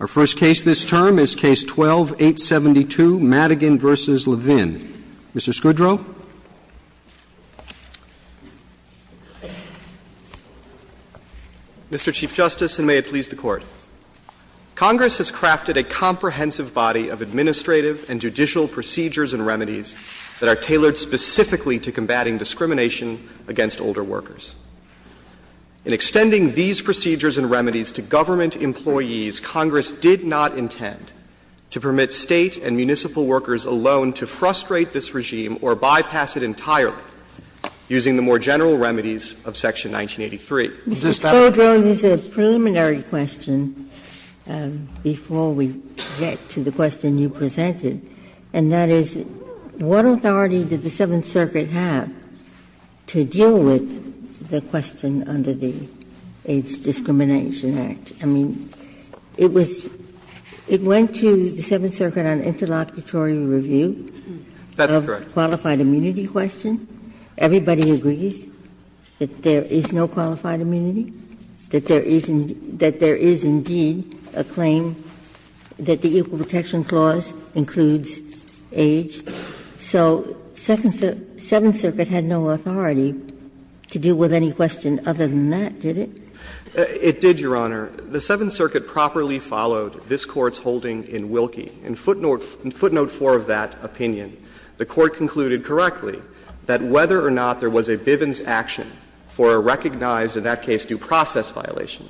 Our first case this term is Case 12-872, Madigan v. Levin. Mr. Scudro. Mr. Chief Justice, and may it please the Court. Congress has crafted a comprehensive body of administrative and judicial procedures and remedies that are tailored specifically to combating discrimination against older workers. In extending these procedures and remedies to government employees, Congress did not intend to permit State and municipal workers alone to frustrate this regime or bypass it entirely using the more general remedies of Section 1983. Is this fair? Mr. Scudro, you said a preliminary question before we get to the question you presented, and that is, what authority did the Seventh Circuit have to deal with the question under the AIDS Discrimination Act? I mean, it was – it went to the Seventh Circuit on interlocutory review. That's correct. A qualified immunity question. Everybody agrees that there is no qualified immunity, that there is indeed a claim that the Equal Protection Clause includes age. So Seventh Circuit had no authority to deal with any question other than that, did it? It did, Your Honor. The Seventh Circuit properly followed this Court's holding in Wilkie. In footnote 4 of that opinion, the Court concluded correctly that whether or not there was a Bivens action for a recognized, in that case, due process violation,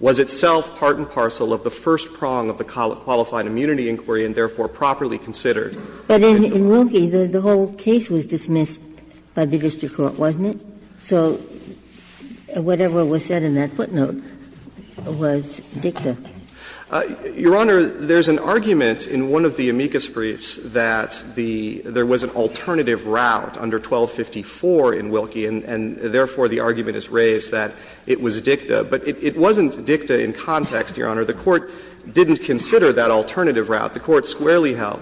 was itself part and parcel of the first prong of the qualified immunity inquiry, and therefore properly considered. But in Wilkie, the whole case was dismissed by the district court, wasn't it? So whatever was said in that footnote was dicta. Your Honor, there's an argument in one of the amicus briefs that the – there was an alternative route under 1254 in Wilkie, and therefore the argument is raised that it was dicta. But it wasn't dicta in context, Your Honor. The Court didn't consider that alternative route. The Court squarely held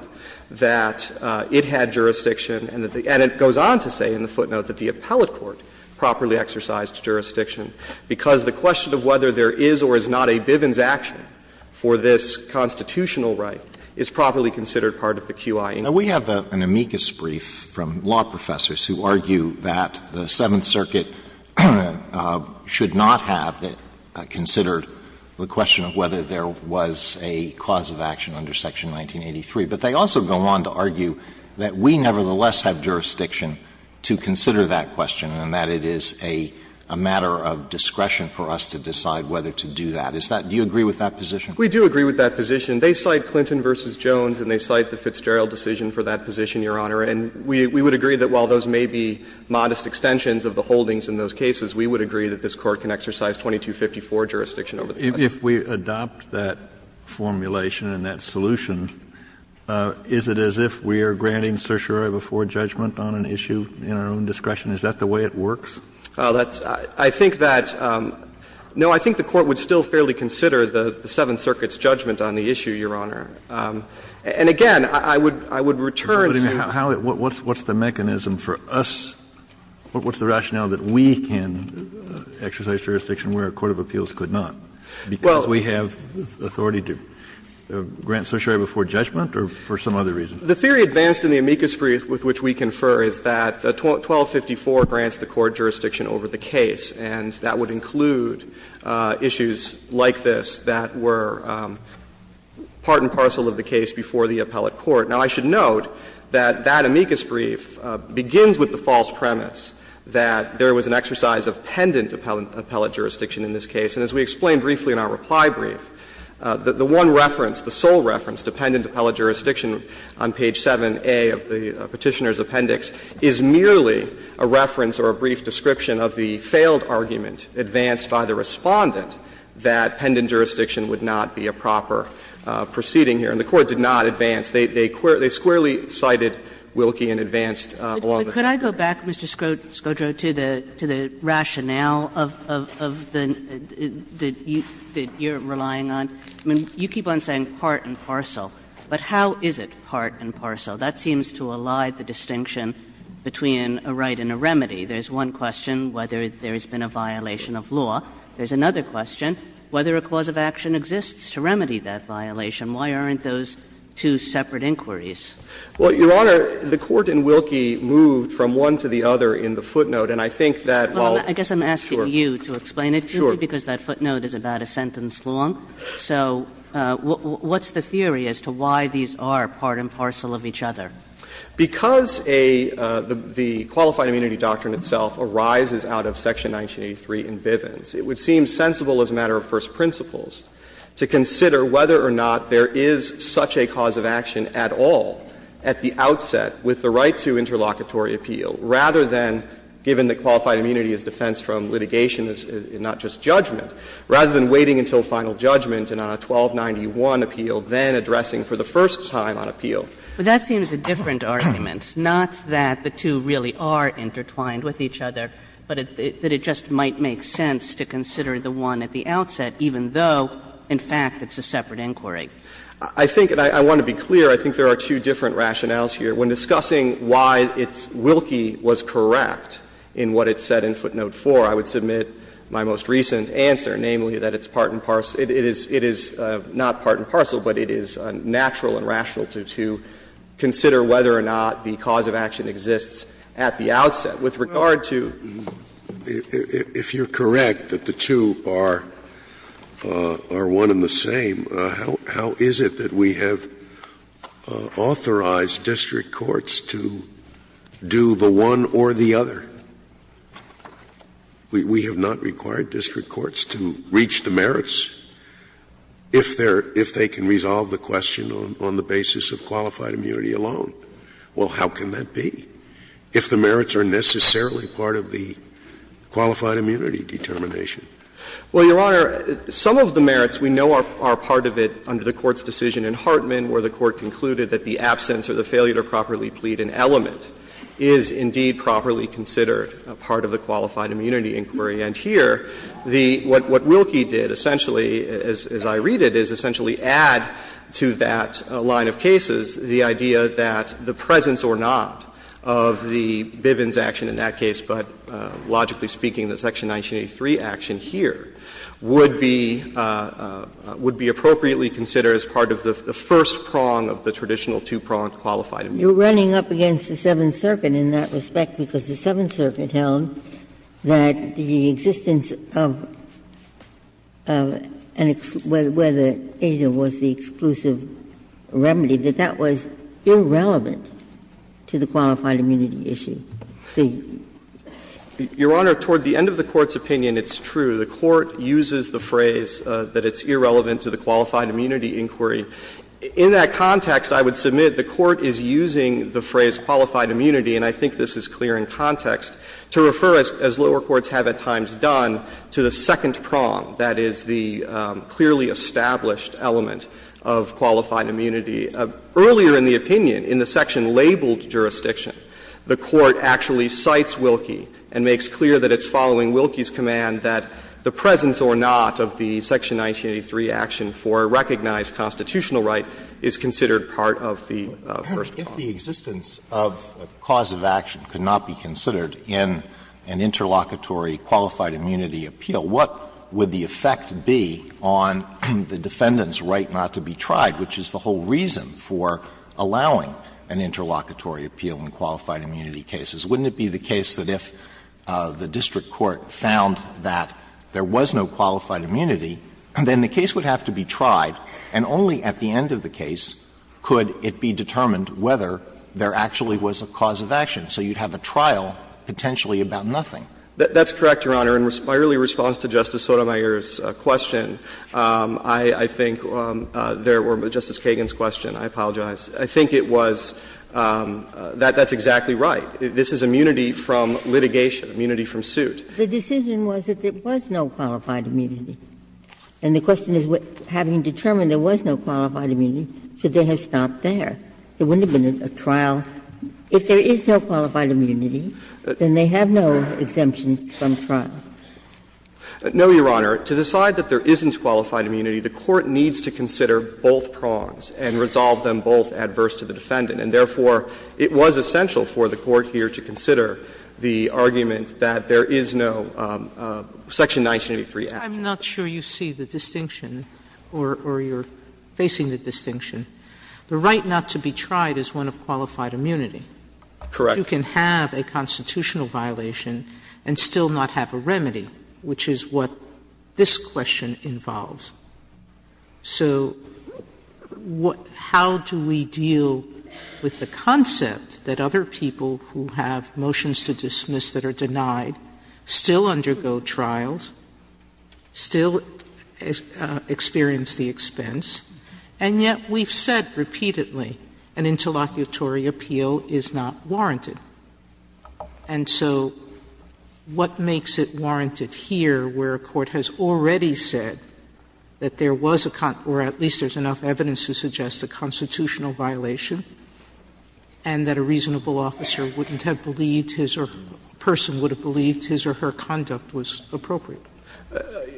that it had jurisdiction and that the – and it goes on to say in the footnote that the appellate court properly exercised jurisdiction, because the question of whether there is or is not a Bivens action for this constitutional right is properly considered part of the QI. Alito, we have an amicus brief from law professors who argue that the Seventh Amendment does not have considered the question of whether there was a cause of action under Section 1983, but they also go on to argue that we nevertheless have jurisdiction to consider that question and that it is a matter of discretion for us to decide whether to do that. Is that – do you agree with that position? We do agree with that position. They cite Clinton v. Jones and they cite the Fitzgerald decision for that position, Your Honor, and we would agree that while those may be modest extensions of the holdings in those cases, we would agree that this Court can exercise 2254 jurisdiction over the question. Kennedy, if we adopt that formulation and that solution, is it as if we are granting certiorari before judgment on an issue in our own discretion? Is that the way it works? That's – I think that – no, I think the Court would still fairly consider the Seventh Circuit's judgment on the issue, Your Honor. Kennedy, if we adopt that formulation and that solution, is it as if we are granting Is that the way it works? Is that the way we can exercise jurisdiction where a court of appeals could not? Because we have authority to grant certiorari before judgment or for some other reason? The theory advanced in the amicus brief with which we confer is that 1254 grants the court jurisdiction over the case, and that would include issues like this that were part and parcel of the case before the appellate court. Now, I should note that that amicus brief begins with the false premise that there was an exercise of pendant appellate jurisdiction in this case. And as we explained briefly in our reply brief, the one reference, the sole reference to pendant appellate jurisdiction on page 7A of the Petitioner's Appendix is merely a reference or a brief description of the failed argument advanced by the Respondent that pendant jurisdiction would not be a proper proceeding here. And the Court did not advance. They squarely cited Wilkie and advanced along the pattern. Kagan But could I go back, Mr. Scodro, to the rationale of the you're relying on? I mean, you keep on saying part and parcel, but how is it part and parcel? That seems to elide the distinction between a right and a remedy. There's one question, whether there has been a violation of law. There's another question, whether a cause of action exists to remedy that violation. Why aren't those two separate inquiries? Scodro Well, Your Honor, the Court in Wilkie moved from one to the other in the footnote, and I think that while Kagan I guess I'm asking you to explain it to me, because that footnote is about a sentence long. So what's the theory as to why these are part and parcel of each other? Scodro Because a the Qualified Immunity Doctrine itself arises out of Section 1983 in Bivens. It would seem sensible as a matter of first principles to consider whether or not there is such a cause of action at all at the outset with the right to interlocutory appeal, rather than, given that qualified immunity is defensed from litigation and not just judgment, rather than waiting until final judgment and on a 1291 appeal then addressing for the first time on appeal. Kagan But that seems a different argument, not that the two really are intertwined with each other, but that it just might make sense to consider the one at the outset, even though, in fact, it's a separate inquiry. Scodro I think, and I want to be clear, I think there are two different rationales here. When discussing why it's Wilkie was correct in what it said in footnote 4, I would submit my most recent answer, namely, that it's part and parcel. It is not part and parcel, but it is natural and rational to consider whether or not the cause of action exists at the outset. With regard to Scalia If you are correct that the two are one and the same, how is it that we have authorized district courts to do the one or the other? We have not required district courts to reach the merits if they can resolve the question on the basis of qualified immunity alone. Well, how can that be, if the merits are necessarily part of the qualified immunity determination? Well, Your Honor, some of the merits we know are part of it under the Court's decision in Hartman, where the Court concluded that the absence or the failure to properly plead an element is indeed properly considered part of the qualified immunity inquiry. And here, the what Wilkie did essentially, as I read it, is essentially add to that line of cases the idea that the presence or not of the Bivens action in that case, but logically speaking, the Section 1983 action here, would be appropriately considered as part of the first prong of the traditional two-prong qualified immunity. Ginsburg You are running up against the Seventh Circuit in that respect, because the Seventh Circuit said in its remedy that that was irrelevant to the qualified immunity issue. Your Honor, toward the end of the Court's opinion, it's true. The Court uses the phrase that it's irrelevant to the qualified immunity inquiry. In that context, I would submit the Court is using the phrase qualified immunity, and I think this is clear in context, to refer, as lower courts have at times done, to the second prong, that is, the clearly established element of qualified immunity. Earlier in the opinion, in the section labeled jurisdiction, the Court actually cites Wilkie and makes clear that it's following Wilkie's command that the presence or not of the Section 1983 action for recognized constitutional right is considered part of the first prong. Alito If the existence of a cause of action could not be considered in an interlocutory qualified immunity appeal, what would the effect be on the defendant's right not to be tried, which is the whole reason for allowing an interlocutory appeal in qualified immunity cases? Wouldn't it be the case that if the district court found that there was no qualified immunity, then the case would have to be tried, and only at the end of the case could it be determined whether there actually was a cause of action, so you'd have a trial potentially about nothing? That's correct, Your Honor. In my early response to Justice Sotomayor's question, I think there were Justice Kagan's questions. I apologize. I think it was that that's exactly right. This is immunity from litigation, immunity from suit. The decision was that there was no qualified immunity, and the question is, having determined there was no qualified immunity, should they have stopped there? There wouldn't have been a trial. If there is no qualified immunity, then they have no exemptions from trial. No, Your Honor. To decide that there isn't qualified immunity, the Court needs to consider both prongs and resolve them both adverse to the defendant, and therefore, it was essential for the Court here to consider the argument that there is no Section 1983 action. I'm not sure you see the distinction or you're facing the distinction. The right not to be tried is one of qualified immunity. Correct. You can have a constitutional violation and still not have a remedy, which is what this question involves. So how do we deal with the concept that other people who have motions to dismiss that are denied still undergo trials, still experience the expense, and yet we've said repeatedly an interlocutory appeal is not warranted? And so what makes it warranted here, where a court has already said that there was a con or at least there's enough evidence to suggest a constitutional violation and that a reasonable officer wouldn't have believed his or a person would have believed his or her conduct was appropriate?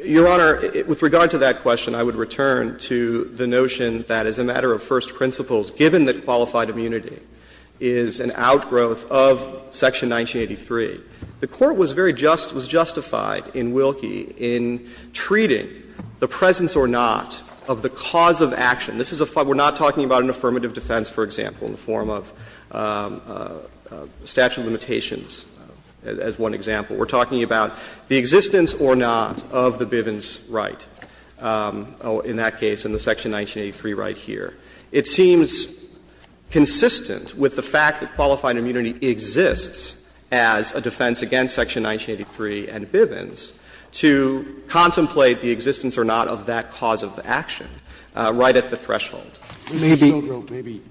Your Honor, with regard to that question, I would return to the notion that as a matter of first principles, given that qualified immunity is an outgrowth of Section 1983, the Court was very just was justified in Wilkie in treating the presence or not of the cause of action. This is a far we're not talking about an affirmative defense, for example, in the form of statute of limitations as one example. We're talking about the existence or not of the Bivens right, in that case, in the Section 1983 right here. It seems consistent with the fact that qualified immunity exists as a defense against Section 1983 and Bivens to contemplate the existence or not of that cause of the action right at the threshold. Maybe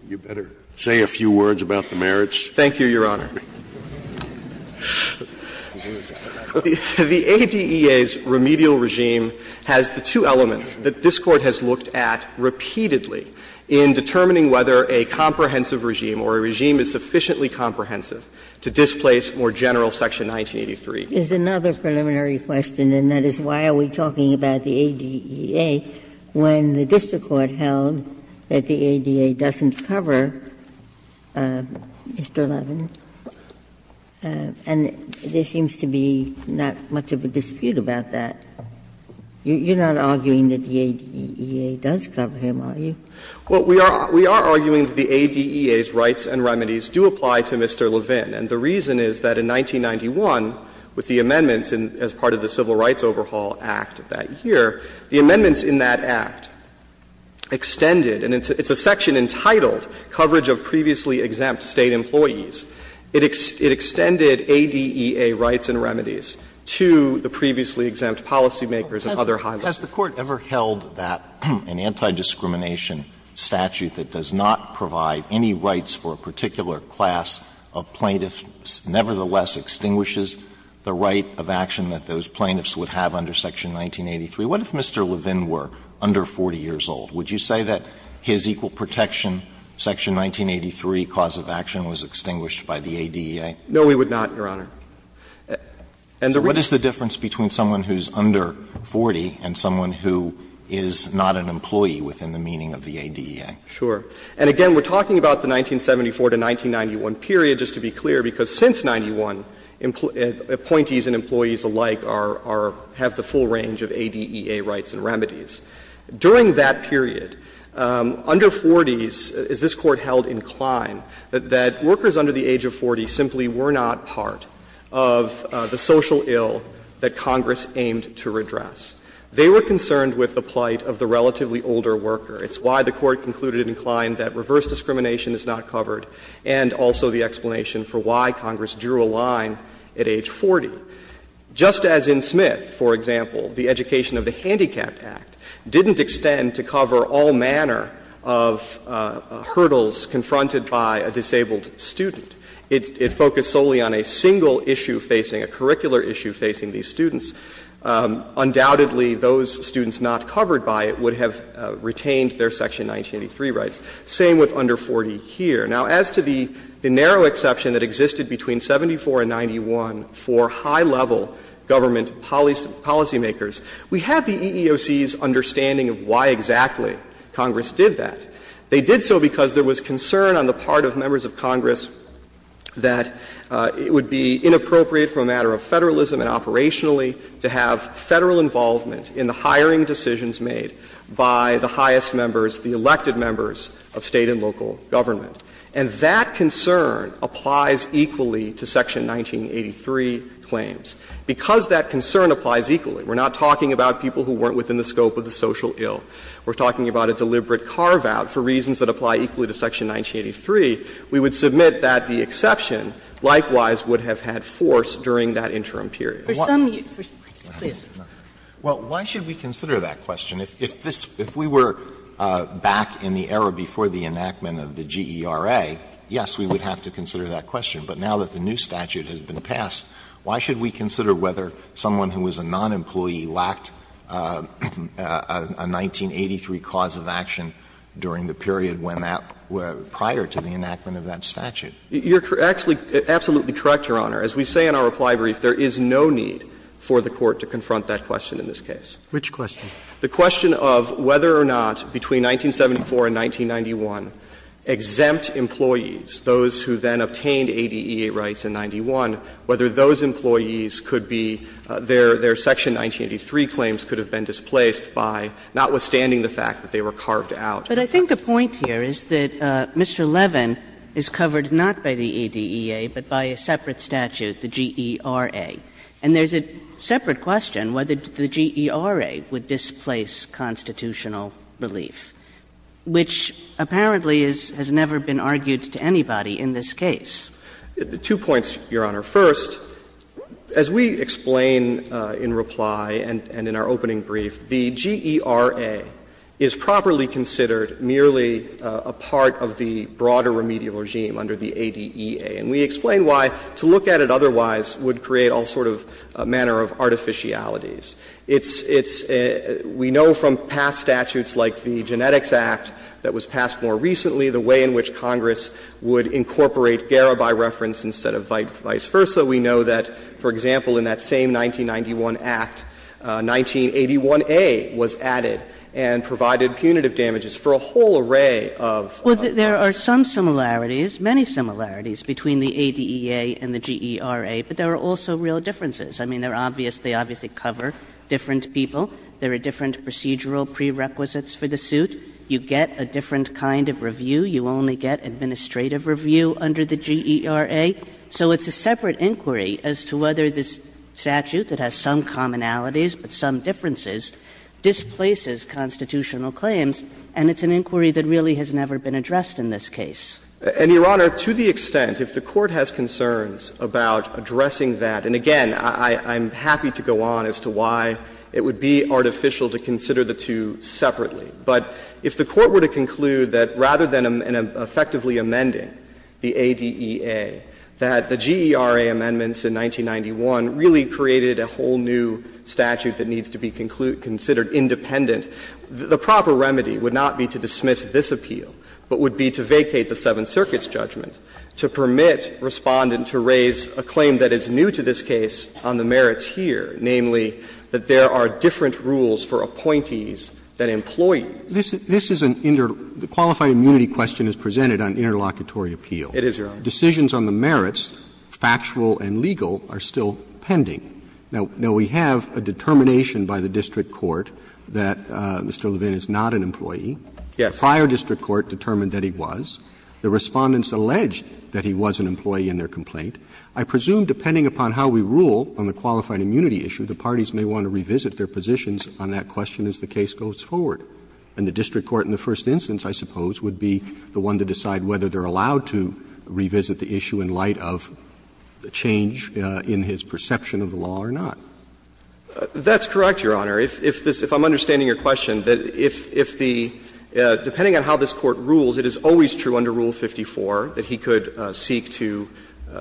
you better say a few words about the merits. Thank you, Your Honor. The ADEA's remedial regime has the two elements that this Court has looked at repeatedly in determining whether a comprehensive regime or a regime is sufficiently comprehensive to displace more general Section 1983. Ginsburg is another preliminary question, and that is, why are we talking about the ADEA when the district court held that the ADEA doesn't cover, Mr. Levin? And there seems to be not much of a dispute about that. You're not arguing that the ADEA does cover him, are you? Well, we are arguing that the ADEA's rights and remedies do apply to Mr. Levin. And the reason is that in 1991, with the amendments as part of the Civil Rights Overhaul Act of that year, the amendments in that act extended, and it's a section entitled Coverage of Previously Exempt State Employees, it extended ADEA rights and remedies to the previously exempt policymakers and other high levels. Has the Court ever held that an anti-discrimination statute that does not provide any rights for a particular class of plaintiffs nevertheless extinguishes the right of action that those plaintiffs would have under Section 1983? What if Mr. Levin were under 40 years old? Would you say that his equal protection, Section 1983, cause of action was extinguished by the ADEA? No, we would not, Your Honor. And the reason is that the ADEA does cover him, and it's a section entitled Coverage of Previously Exempt State Employees, it extends ADEA rights and remedies by the ADEA? No, we would not, Your Honor. And the reason is that the ADEA does cover him, and it's a section entitled to the previously exempt policymakers and other high levels of policymakers. Under 40s, is this Court held inclined that workers under the age of 40 simply were not part of the social ill that Congress aimed to redress? They were concerned with the plight of the relatively older worker. It's why the Court concluded inclined that reverse discrimination is not covered and also the explanation for why Congress drew a line at age 40. Just as in Smith, for example, the education of the Handicapped Act didn't extend to cover all manner of hurdles confronted by a disabled student. It focused solely on a single issue facing, a curricular issue facing these students. Undoubtedly, those students not covered by it would have retained their Section 1983 rights. Same with under 40 here. Now, as to the narrow exception that existed between 74 and 91 for high-level government policymakers, we have the EEOC's understanding of why exactly Congress did that. They did so because there was concern on the part of members of Congress that it would be inappropriate for a matter of federalism and operationally to have Federal involvement in the hiring decisions made by the highest members, the elected members of State and local government. And that concern applies equally to Section 1983 claims. Because that concern applies equally, we're not talking about people who weren't within the scope of the social ill. We're talking about a deliberate carve-out for reasons that apply equally to Section 1983, we would submit that the exception, likewise, would have had force during that interim period. Sotomayor, please. Alito, why should we consider that question? If this, if we were back in the era before the enactment of the GERA, yes, we would have to consider that question. But now that the new statute has been passed, why should we consider whether someone who was a non-employee lacked a 1983 cause of action during the period when that statute was enacted prior to the enactment of that statute? You're actually absolutely correct, Your Honor. As we say in our reply brief, there is no need for the Court to confront that question in this case. Which question? The question of whether or not between 1974 and 1991 exempt employees, those who then obtained ADEA rights in 91, whether those employees could be, their Section 1983 But I think the point here is that Mr. Levin is covered not by the ADEA, but by a separate statute, the GERA. And there's a separate question, whether the GERA would displace constitutional relief, which apparently is, has never been argued to anybody in this case. Two points, Your Honor. First, as we explain in reply and in our opening brief, the GERA is properly considered merely a part of the broader remedial regime under the ADEA. And we explain why to look at it otherwise would create all sort of a manner of artificialities. It's — it's — we know from past statutes like the Genetics Act that was passed more recently, the way in which Congress would incorporate GERA by reference instead of vice versa. We know that, for example, in that same 1991 Act, 1981a was added and provided punitive damages for a whole array of laws. Well, there are some similarities, many similarities, between the ADEA and the GERA, but there are also real differences. I mean, they're obvious — they obviously cover different people. There are different procedural prerequisites for the suit. You get a different kind of review. You only get administrative review under the GERA. So it's a separate inquiry as to whether this statute that has some commonalities but some differences displaces constitutional claims, and it's an inquiry that really has never been addressed in this case. And, Your Honor, to the extent, if the Court has concerns about addressing that, and again, I'm happy to go on as to why it would be artificial to consider the two separately, but if the Court were to conclude that rather than effectively amending the ADEA, that the GERA amendments in 1991 really created a whole new statute that needs to be considered independent, the proper remedy would not be to dismiss this appeal, but would be to vacate the Seventh Circuit's judgment, to permit Respondent to raise a claim that is new to this case on the merits here, namely that there are different rules for appointees than employees. Roberts, this is an inter — the qualified immunity question is presented on interlocutory appeal. It is, Your Honor. Decisions on the merits, factual and legal, are still pending. Now, we have a determination by the district court that Mr. Levin is not an employee. The prior district court determined that he was. The Respondents alleged that he was an employee in their complaint. I presume, depending upon how we rule on the qualified immunity issue, the parties may want to revisit their positions on that question as the case goes forward. And the district court in the first instance, I suppose, would be the one to decide whether they're allowed to revisit the issue in light of the change in his perception of the law or not. That's correct, Your Honor. If this — if I'm understanding your question, that if the — depending on how this court rules, it is always true under Rule 54 that he could seek to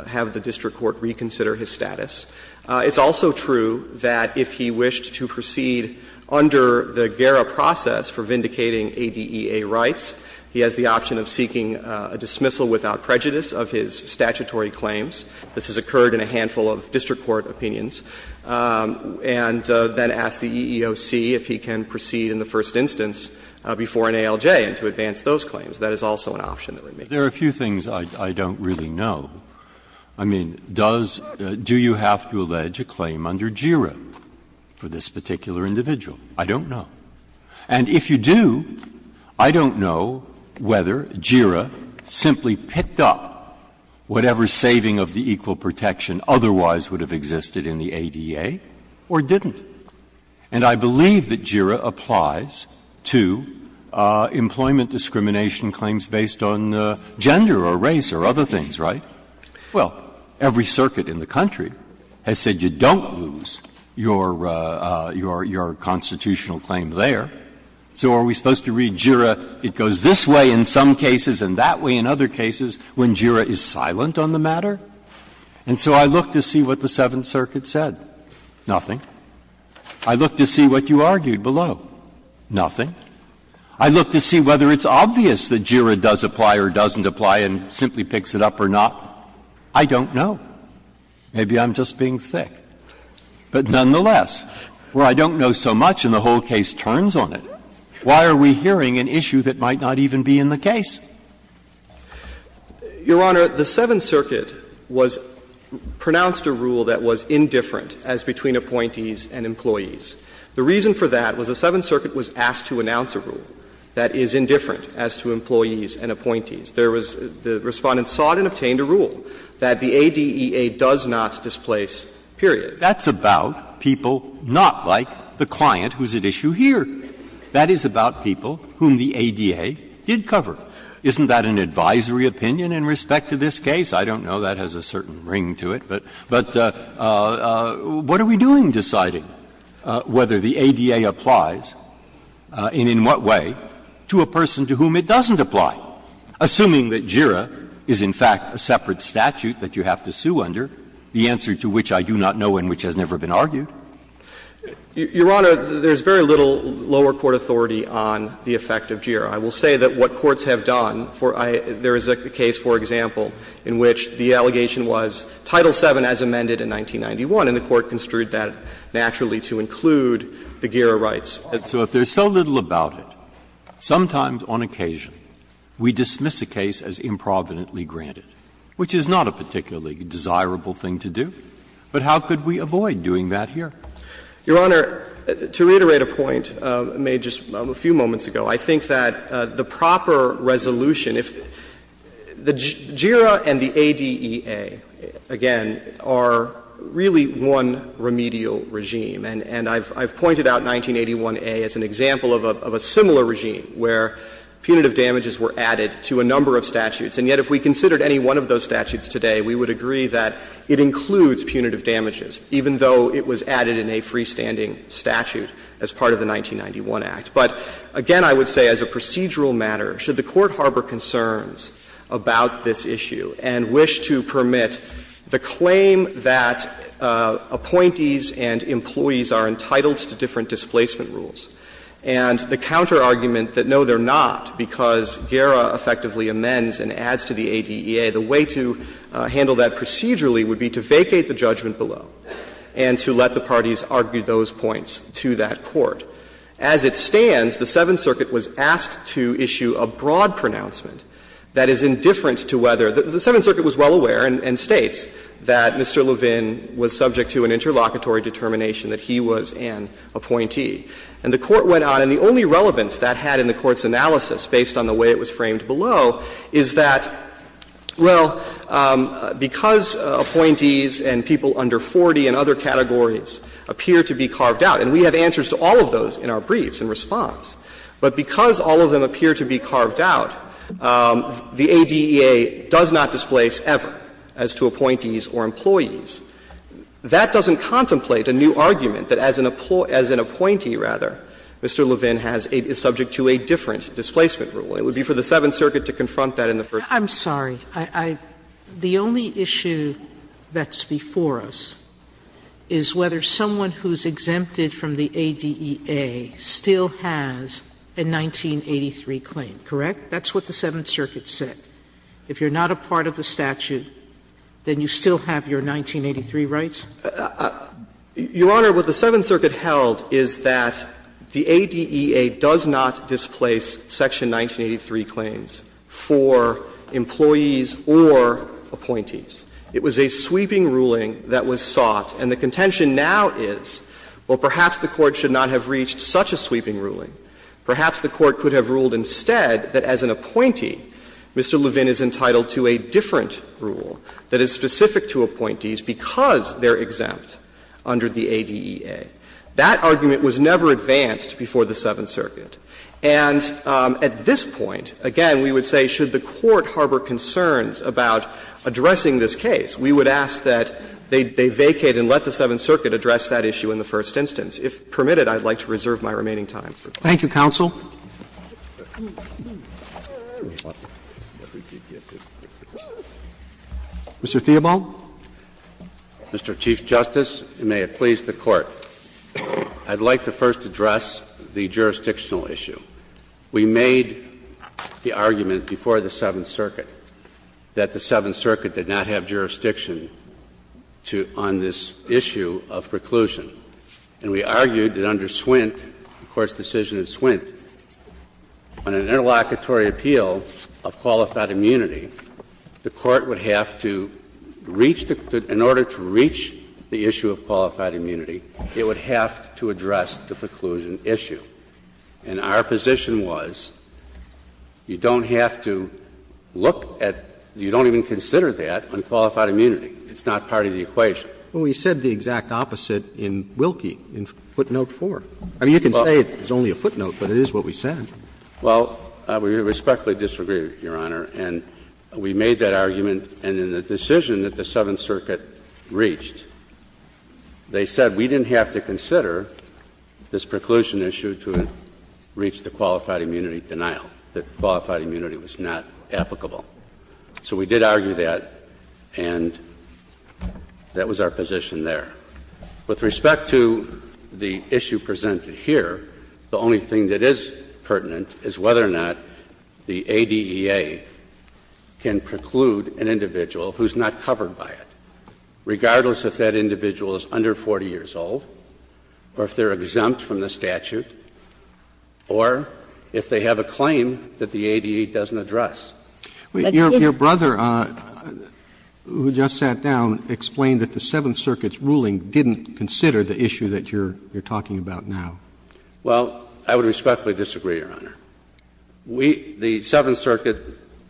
have the district court reconsider his status. It's also true that if he wished to proceed under the GERA process for vindicating ADEA rights, he has the option of seeking a dismissal without prejudice of his statutory claims. This has occurred in a handful of district court opinions. And then ask the EEOC if he can proceed in the first instance before an ALJ and to advance those claims. That is also an option that remains. Breyer. There are a few things I don't really know. I mean, does — do you have to allege a claim under GERA for this particular individual? I don't know. And if you do, I don't know whether GERA simply picked up whatever saving of the equal protection otherwise would have existed in the ADEA or didn't. And I believe that GERA applies to employment discrimination claims based on gender or race or other things, right? Well, every circuit in the country has said you don't lose your constitutional claim there. So are we supposed to read GERA, it goes this way in some cases and that way in other cases, when GERA is silent on the matter? And so I look to see what the Seventh Circuit said. Nothing. I look to see what you argued below. Nothing. I look to see whether it's obvious that GERA does apply or doesn't apply and simply picks it up or not. I don't know. Maybe I'm just being thick. But nonetheless, where I don't know so much and the whole case turns on it, why are we hearing an issue that might not even be in the case? Your Honor, the Seventh Circuit was pronounced a rule that was indifferent as between appointees and employees. The reason for that was the Seventh Circuit was asked to announce a rule that is indifferent as to employees and appointees. There was the Respondent sought and obtained a rule that the ADEA does not displace period. That's about people not like the client who's at issue here. That is about people whom the ADEA did cover. Isn't that an advisory opinion in respect to this case? I don't know. That has a certain ring to it. But what are we doing deciding whether the ADEA applies and in what way to a person to whom it doesn't apply, assuming that GERA is in fact a separate statute that you have to sue under, the answer to which I do not know and which has never been argued? Your Honor, there's very little lower court authority on the effect of GERA. I will say that what courts have done for the case, for example, in which the allegation was Title VII as amended in 1991, and the Court construed that naturally to include the GERA rights. So if there's so little about it, sometimes on occasion we dismiss a case as improvidently granted, which is not a particularly desirable thing to do. But how could we avoid doing that here? Your Honor, to reiterate a point made just a few moments ago, I think that the proper resolution, if the GERA and the ADEA, again, are really one remedial regime. And I've pointed out 1981a as an example of a similar regime where punitive damages were added to a number of statutes. And yet if we considered any one of those statutes today, we would agree that it includes punitive damages, even though it was added in a freestanding statute as part of the 1991 Act. But again, I would say as a procedural matter, should the Court harbor concerns about this issue and wish to permit the claim that appointees and employees are entitled to different displacement rules, and the counterargument that no, they're not, because GERA effectively amends and adds to the ADEA, the way to handle that procedurally would be to vacate the judgment below and to let the parties argue those points to that Court. As it stands, the Seventh Circuit was asked to issue a broad pronouncement that is indifferent to whether the Seventh Circuit was well aware and states that Mr. Levin was subject to an interlocutory determination that he was an appointee. And the Court went on, and the only relevance that had in the Court's analysis based on the way it was framed below is that, well, because appointees and people under 40 and other categories appear to be carved out, and we have answers to all of those in our briefs in response, but because all of them appear to be carved out, the ADEA does not displace ever as to appointees or employees. That doesn't contemplate a new argument that as an appointee, right, as an employee rather, Mr. Levin is subject to a different displacement rule. It would be for the Seventh Circuit to confront that in the first place. Sotomayor, I'm sorry. The only issue that's before us is whether someone who's exempted from the ADEA still has a 1983 claim, correct? That's what the Seventh Circuit said. If you're not a part of the statute, then you still have your 1983 rights? Your Honor, what the Seventh Circuit held is that the ADEA does not displace section 1983 claims for employees or appointees. It was a sweeping ruling that was sought, and the contention now is, well, perhaps the Court should not have reached such a sweeping ruling. Perhaps the Court could have ruled instead that as an appointee, Mr. Levin is entitled to a different rule that is specific to appointees because they're exempt under the ADEA. That argument was never advanced before the Seventh Circuit. And at this point, again, we would say should the Court harbor concerns about addressing this case, we would ask that they vacate and let the Seventh Circuit address that issue in the first instance. Roberts. Thank you, counsel. Mr. Theobald. Mr. Chief Justice, and may it please the Court. I'd like to first address the jurisdictional issue. We made the argument before the Seventh Circuit that the Seventh Circuit did not have jurisdiction on this issue of preclusion. And we argued that under Swint, the Court's decision of Swint, on an interlocutory appeal of qualified immunity, the Court would have to reach the — in order to reach the issue of qualified immunity, it would have to address the preclusion issue. And our position was you don't have to look at — you don't even consider that on qualified immunity. It's not part of the equation. Well, we said the exact opposite in Wilkie, in footnote 4. I mean, you can say it's only a footnote, but it is what we said. Well, we respectfully disagree, Your Honor. And we made that argument. And in the decision that the Seventh Circuit reached, they said we didn't have to consider this preclusion issue to reach the qualified immunity denial, that qualified immunity was not applicable. So we did argue that, and that was our position there. With respect to the issue presented here, the only thing that is pertinent is whether or not the ADEA can preclude an individual who is not covered by it, regardless if that individual is under 40 years old or if they are exempt from the statute or if they have a claim that the ADEA doesn't address. Your brother, who just sat down, explained that the Seventh Circuit's ruling didn't consider the issue that you're talking about now. Well, I would respectfully disagree, Your Honor. We, the Seventh Circuit,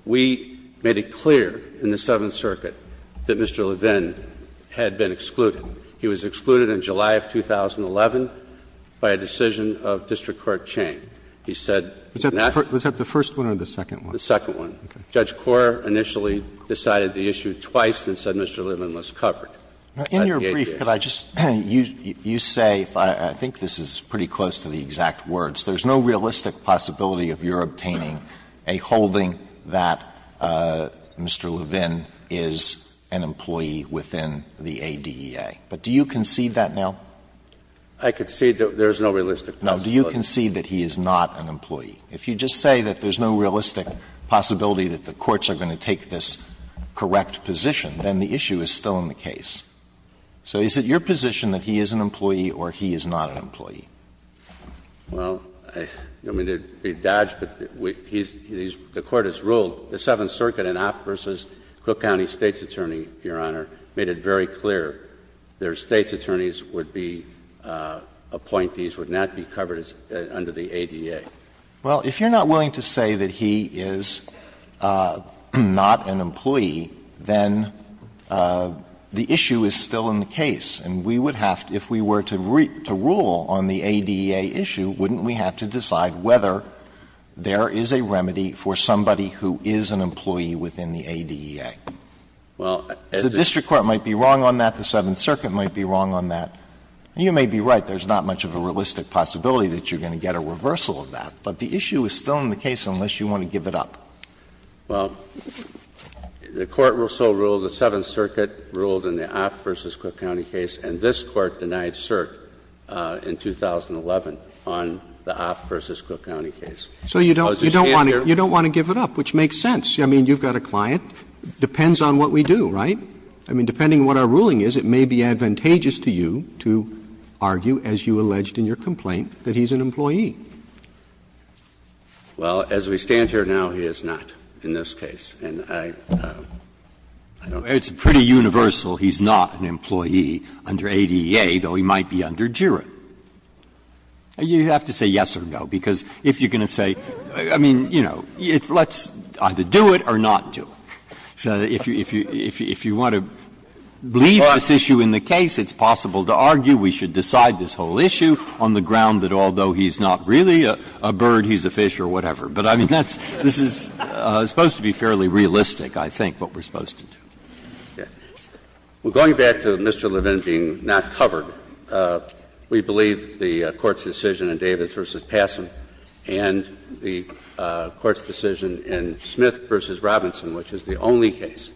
we made it clear in the Seventh Circuit that Mr. Levin had been excluded. He was excluded in July of 2011 by a decision of district court Chang. He said that was not— Was that the first one or the second one? The second one. Judge Korr initially decided the issue twice and said Mr. Levin was covered. In your brief, could I just — you say, I think this is pretty close to the exact words, there's no realistic possibility of your obtaining a holding that Mr. Levin is an employee within the ADEA. But do you concede that now? I concede that there is no realistic possibility. Now, do you concede that he is not an employee? If you just say that there's no realistic possibility that the courts are going to take this correct position, then the issue is still in the case. So is it your position that he is an employee or he is not an employee? Well, I mean, they dodged, but he's — the Court has ruled the Seventh Circuit in Opp v. Cook County State's Attorney, Your Honor, made it very clear their State's attorneys would be appointees, would not be covered under the ADEA. Well, if you're not willing to say that he is not an employee, then the issue is still in the case, and we would have to — if we were to rule on the ADEA issue, wouldn't we have to decide whether there is a remedy for somebody who is an employee within the ADEA? Well, as a — The district court might be wrong on that, the Seventh Circuit might be wrong on that. You may be right, there's not much of a realistic possibility that you're going to get a reversal of that, but the issue is still in the case unless you want to give it up. Well, the Court will still rule the Seventh Circuit ruled in the Opp v. Cook County case, and this Court denied cert in 2011 on the Opp v. Cook County case. So you don't want to give it up, which makes sense. I mean, you've got a client. Depends on what we do, right? I mean, depending on what our ruling is, it may be advantageous to you to argue, as you alleged in your complaint, that he's an employee. Well, as we stand here now, he is not in this case, and I don't know. It's pretty universal he's not an employee under ADEA, though he might be under JIRA. You have to say yes or no, because if you're going to say — I mean, you know, let's either do it or not do it. So if you want to leave this issue in the case, it's possible to argue we should decide this whole issue on the ground that although he's not really a bird, he's a fish or whatever. But, I mean, that's — this is supposed to be fairly realistic, I think, what we're supposed to do. Yeah. Well, going back to Mr. Levin being not covered, we believe the Court's decision in Davis v. Passam and the Court's decision in Smith v. Robinson, which is the only case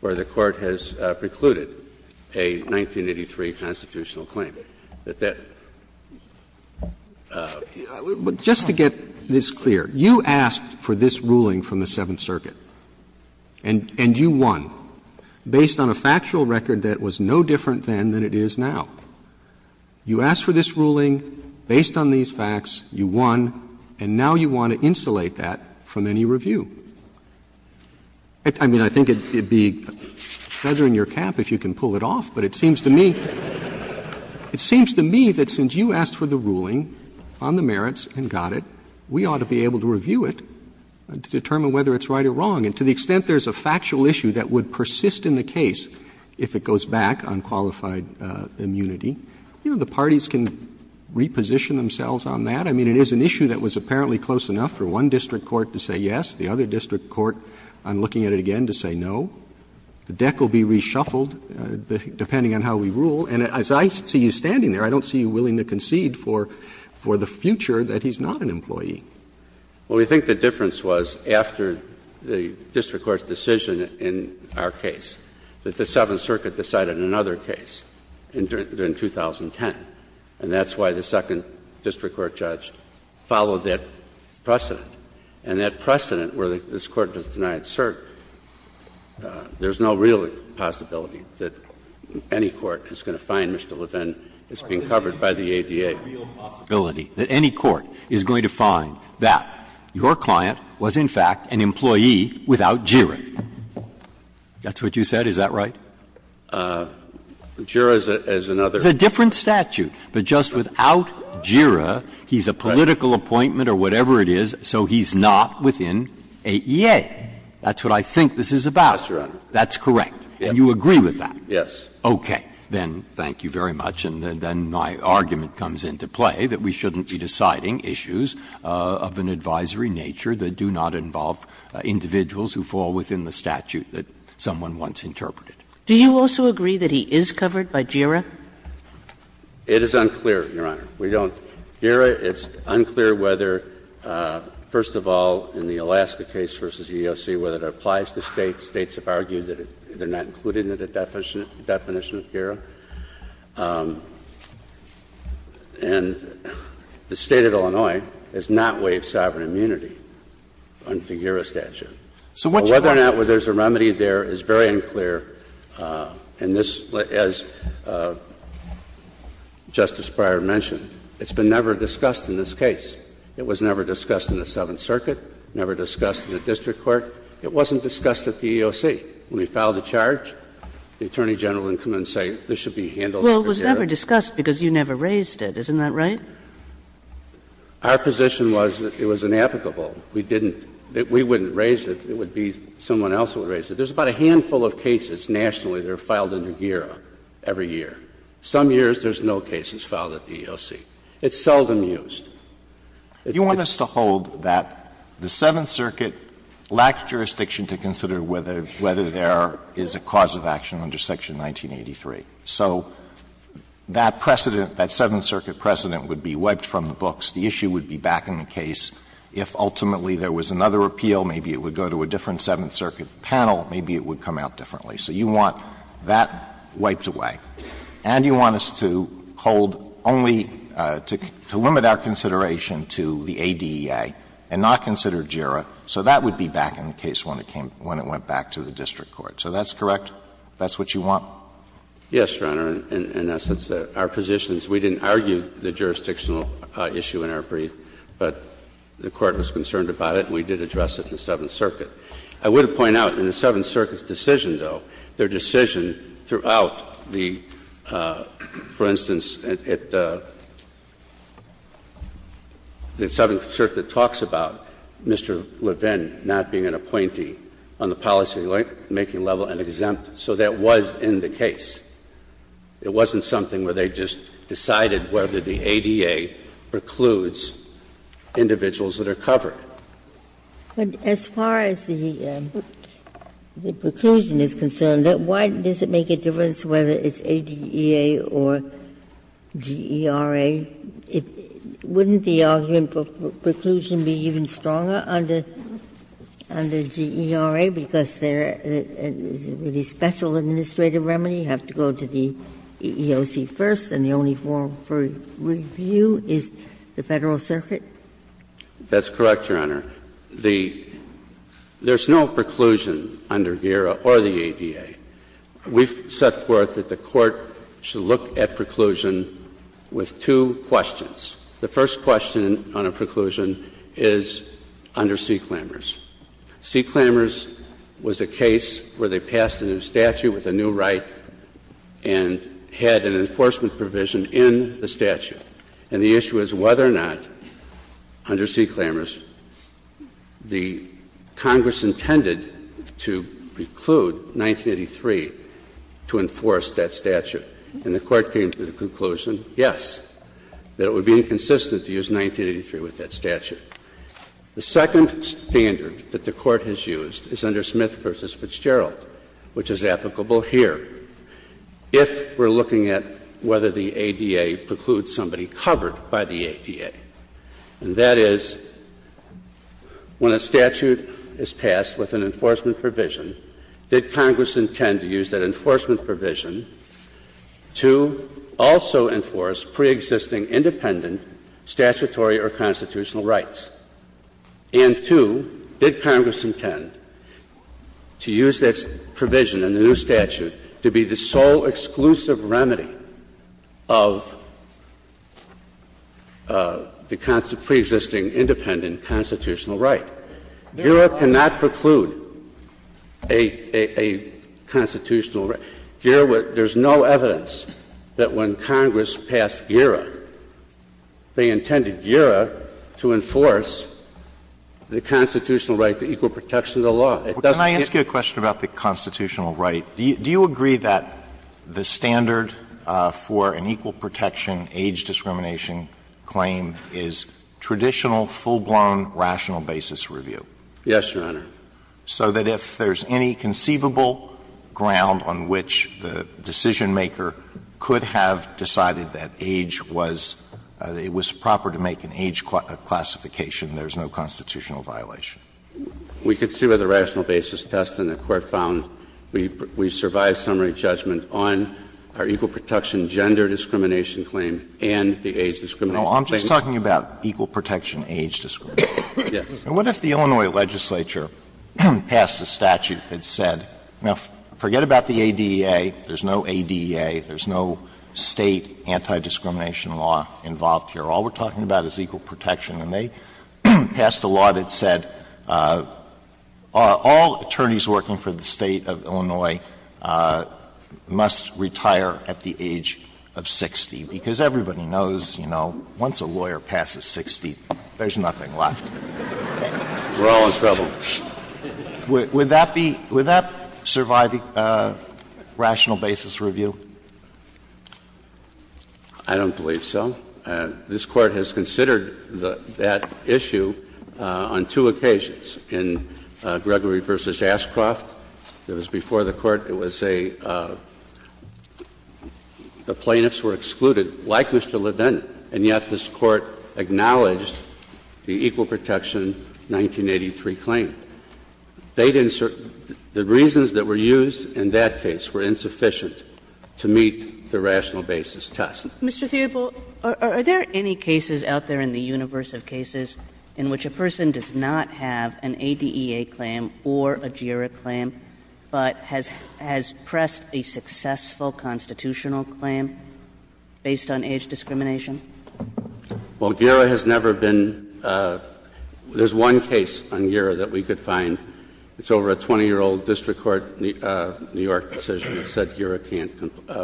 where the Court has precluded a 1983 constitutional claim. But that — Roberts Just to get this clear, you asked for this ruling from the Seventh Circuit, and you won based on a factual record that was no different then than it is now. You asked for this ruling based on these facts, you won, and now you want to insulate that from any review. I mean, I think it would be better in your cap if you can pull it off, but it seems to me — it seems to me that since you asked for the ruling on the merits and got it, we ought to be able to review it to determine whether it's right or wrong. And to the extent there's a factual issue that would persist in the case if it goes back on qualified immunity, you know, the parties can reposition themselves on that. I mean, it is an issue that was apparently close enough for one district court to say yes, the other district court, on looking at it again, to say no. The deck will be reshuffled depending on how we rule. And as I see you standing there, I don't see you willing to concede for the future that he's not an employee. Well, we think the difference was after the district court's decision in our case that the Seventh Circuit decided another case in 2010. And that's why the second district court judge followed that precedent. And that precedent where this Court was denied cert, there's no real possibility that any court is going to find Mr. Levin is being covered by the ADA. Breyer. The real possibility that any court is going to find that your client was, in fact, an employee without JIRA. That's what you said, is that right? JIRA is another. It's a different statute, but just without JIRA, he's a political appointment or whatever it is, so he's not within AEA. That's what I think this is about. That's correct. And you agree with that? Yes. Okay. Then thank you very much. And then my argument comes into play that we shouldn't be deciding issues of an advisory nature that do not involve individuals who fall within the statute that someone once interpreted. Do you also agree that he is covered by JIRA? It is unclear, Your Honor. We don't. JIRA, it's unclear whether, first of all, in the Alaska case versus EEOC, whether it applies to States. States have argued that they're not including it in the definition of JIRA. And the State of Illinois has not waived sovereign immunity under the JIRA statute. So whether or not there's a remedy there is very unclear. And this, as Justice Breyer mentioned, it's been never discussed in this case. It was never discussed in the Seventh Circuit, never discussed in the district court. It wasn't discussed at the EEOC. When we filed a charge, the Attorney General didn't come in and say this should be handled under JIRA. Well, it was never discussed because you never raised it. Isn't that right? Our position was that it was inapplicable. We didn't – we wouldn't raise it. It would be someone else who would raise it. There's about a handful of cases nationally that are filed under JIRA every year. Some years there's no cases filed at the EEOC. It's seldom used. Alitoson, you want us to hold that the Seventh Circuit lacked jurisdiction to consider whether there is a cause of action under Section 1983. So that precedent, that Seventh Circuit precedent would be wiped from the books. The issue would be back in the case. If ultimately there was another appeal, maybe it would go to a different Seventh Circuit panel, maybe it would come out differently. So you want that wiped away. And you want us to hold only – to limit our consideration to the ADEA and not consider JIRA, so that would be back in the case when it came – when it went back to the district court. So that's correct? That's what you want? Yes, Your Honor. In essence, our position is we didn't argue the jurisdictional issue in our brief, but the Court was concerned about it and we did address it in the Seventh Circuit. I would point out in the Seventh Circuit's decision, though, their decision throughout the, for instance, at the – the Seventh Circuit talks about Mr. Levin not being an appointee on the policymaking level and exempt, so that was in the case. It wasn't something where they just decided whether the ADEA precludes individuals that are covered. But as far as the preclusion is concerned, why does it make a difference whether it's ADEA or JIRA? Wouldn't the argument for preclusion be even stronger under JIRA, because they're a really special administrative remedy, have to go to the EEOC first, and the only forum for review is the Federal Circuit? That's correct, Your Honor. The – there's no preclusion under JIRA or the ADEA. We've set forth that the Court should look at preclusion with two questions. The first question on a preclusion is under C. Clammers. C. Clammers was a case where they passed a new statute with a new right and had an enforcement provision in the statute. And the issue is whether or not under C. Clammers the Congress intended to preclude 1983 to enforce that statute. And the Court came to the conclusion, yes, that it would be inconsistent to use 1983 with that statute. The second standard that the Court has used is under Smith v. Fitzgerald, which is applicable here. If we're looking at whether the ADEA precludes somebody covered by the ADEA. And that is, when a statute is passed with an enforcement provision, did Congress intend to use that enforcement provision to also enforce preexisting independent statutory or constitutional rights? And, two, did Congress intend to use that provision in the new statute to be used to be the sole exclusive remedy of the preexisting independent constitutional right? GERA cannot preclude a constitutional right. GERA would — there's no evidence that when Congress passed GERA, they intended GERA to enforce the constitutional right to equal protection of the law. It doesn't get to that. Alito, you're right. Do you agree that the standard for an equal protection age discrimination claim is traditional, full-blown, rational basis review? Yes, Your Honor. So that if there's any conceivable ground on which the decisionmaker could have decided that age was — it was proper to make an age classification, there's no constitutional violation? We could see where the rational basis test in the court found we survived summary judgment on our equal protection gender discrimination claim and the age discrimination claim. No, I'm just talking about equal protection age discrimination. Yes. And what if the Illinois legislature passed a statute that said, now, forget about the ADEA, there's no ADEA, there's no State anti-discrimination law involved here. All we're talking about is equal protection, and they passed a law that said all attorneys working for the State of Illinois must retire at the age of 60, because everybody knows, you know, once a lawyer passes 60, there's nothing left. We're all in trouble. Would that be — would that survive rational basis review? I don't believe so. This Court has considered that issue on two occasions. In Gregory v. Ashcroft, it was before the Court, it was a — the plaintiffs were excluded, like Mr. Levin, and yet this Court acknowledged the equal protection 1983 claim. They didn't — the reasons that were used in that case were insufficient to meet the rational basis test. Mr. Theobald, are there any cases out there in the universe of cases in which a person does not have an ADEA claim or a GERA claim, but has pressed a successful constitutional claim based on age discrimination? Well, GERA has never been — there's one case on GERA that we could find. It's over a 20-year-old district court, New York, decision that said GERA can't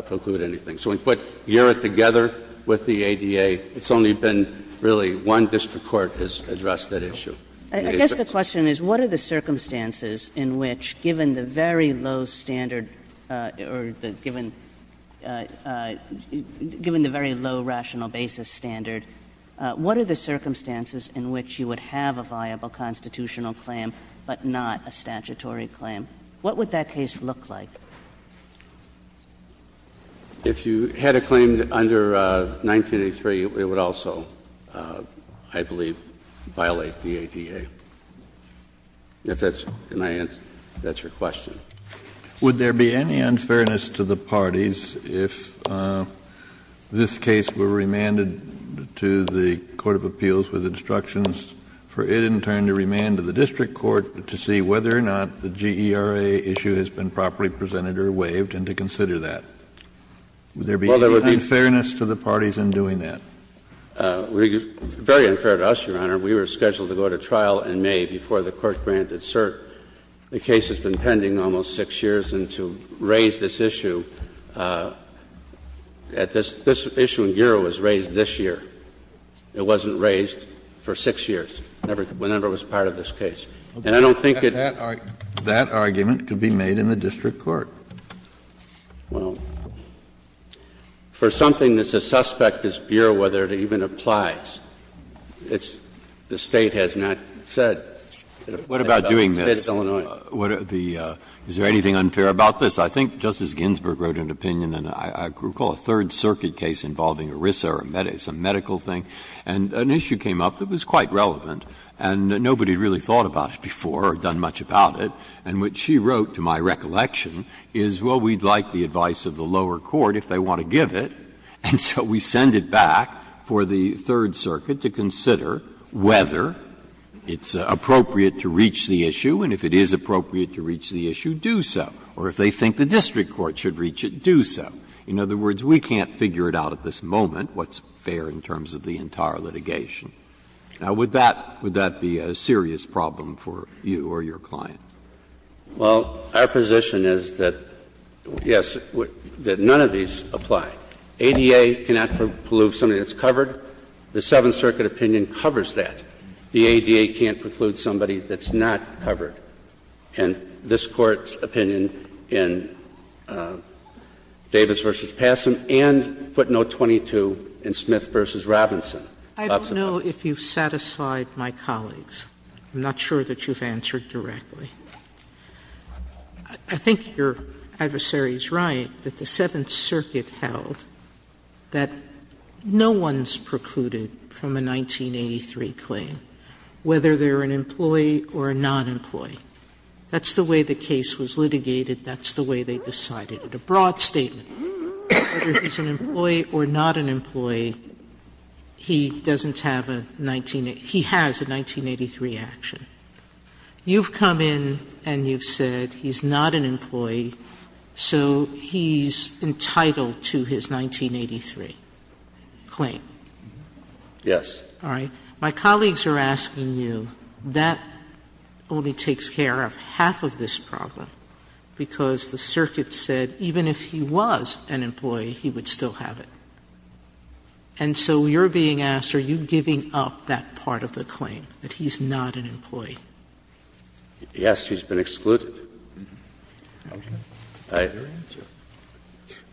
preclude anything. So we put GERA together with the ADEA. It's only been, really, one district court has addressed that issue. I guess the question is, what are the circumstances in which, given the very low standard or the — given — given the very low rational basis standard, what are the circumstances in which you would have a viable constitutional claim but not a statutory claim? What would that case look like? If you had a claim under 1983, it would also, I believe, violate the ADEA. If that's my answer, that's your question. Would there be any unfairness to the parties if this case were remanded to the court of appeals with instructions for it, in turn, to remand to the district court to see whether or not the GERA issue has been properly presented or waived, and to consider that? Would there be any unfairness to the parties in doing that? Very unfair to us, Your Honor. We were scheduled to go to trial in May before the court granted cert. The case has been pending almost 6 years, and to raise this issue at this — this issue in GERA was raised this year. It wasn't raised for 6 years, whenever it was part of this case. And I don't think it — Kennedy, that argument could be made in the district court. Well, for something that's a suspect, this Bureau, whether it even applies, it's — the State has not said that it applies to the State of Illinois. Breyer, is there anything unfair about this? I think Justice Ginsburg wrote an opinion in, I recall, a Third Circuit case involving ERISA or some medical thing, and an issue came up that was quite relevant, and nobody had really thought about it before or done much about it, and what she wrote, to my recollection, is, well, we'd like the advice of the lower court if they want to give it, and so we send it back for the Third Circuit to consider whether it's appropriate to reach the issue, and if it is appropriate to reach the issue, do so, or if they think the district court should reach it, do so. In other words, we can't figure it out at this moment what's fair in terms of the entire litigation. Now, would that be a serious problem for you or your client? Well, our position is that, yes, that none of these apply. ADA cannot preclude somebody that's covered. The Seventh Circuit opinion covers that. The ADA can't preclude somebody that's not covered. And this Court's opinion in Davis v. Passam and footnote 22 in Smith v. Robinson I don't know if you've satisfied my colleagues. I'm not sure that you've answered directly. I think your adversary is right that the Seventh Circuit held that no one's precluded from a 1983 claim, whether they're an employee or a non-employee. That's the way the case was litigated. That's the way they decided. Sotomayor's argument, a broad statement, whether he's an employee or not an employee, he doesn't have a 19 he has a 1983 action. You've come in and you've said he's not an employee, so he's entitled to his 1983 claim. Yes. All right. My colleagues are asking you, that only takes care of half of this problem, because the circuit said even if he was an employee, he would still have it. And so you're being asked, are you giving up that part of the claim, that he's not an employee? Yes, he's been excluded. I have no answer.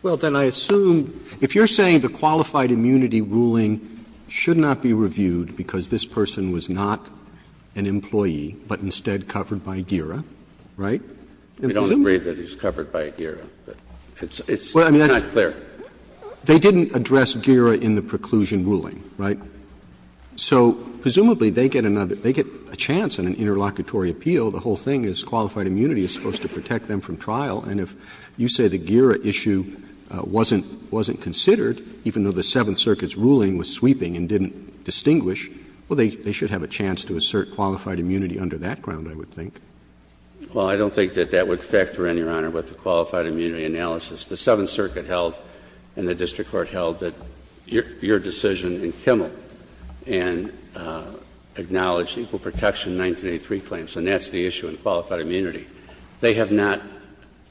Well, then I assume, if you're saying the qualified immunity ruling should not be reviewed because this person was not an employee, but instead covered by GERA, right? I don't agree that he's covered by GERA, but it's not clear. Well, I mean, they didn't address GERA in the preclusion ruling, right? So presumably, they get another, they get a chance in an interlocutory appeal. The whole thing is qualified immunity is supposed to protect them from trial. And if you say the GERA issue wasn't considered, even though the Seventh Circuit's ruling was sweeping and didn't distinguish, well, they should have a chance to assert qualified immunity under that ground, I would think. Well, I don't think that that would factor in, Your Honor, with the qualified immunity analysis. The Seventh Circuit held and the district court held that your decision in Kimmel and acknowledged equal protection in 1983 claims, and that's the issue in qualified immunity. They have not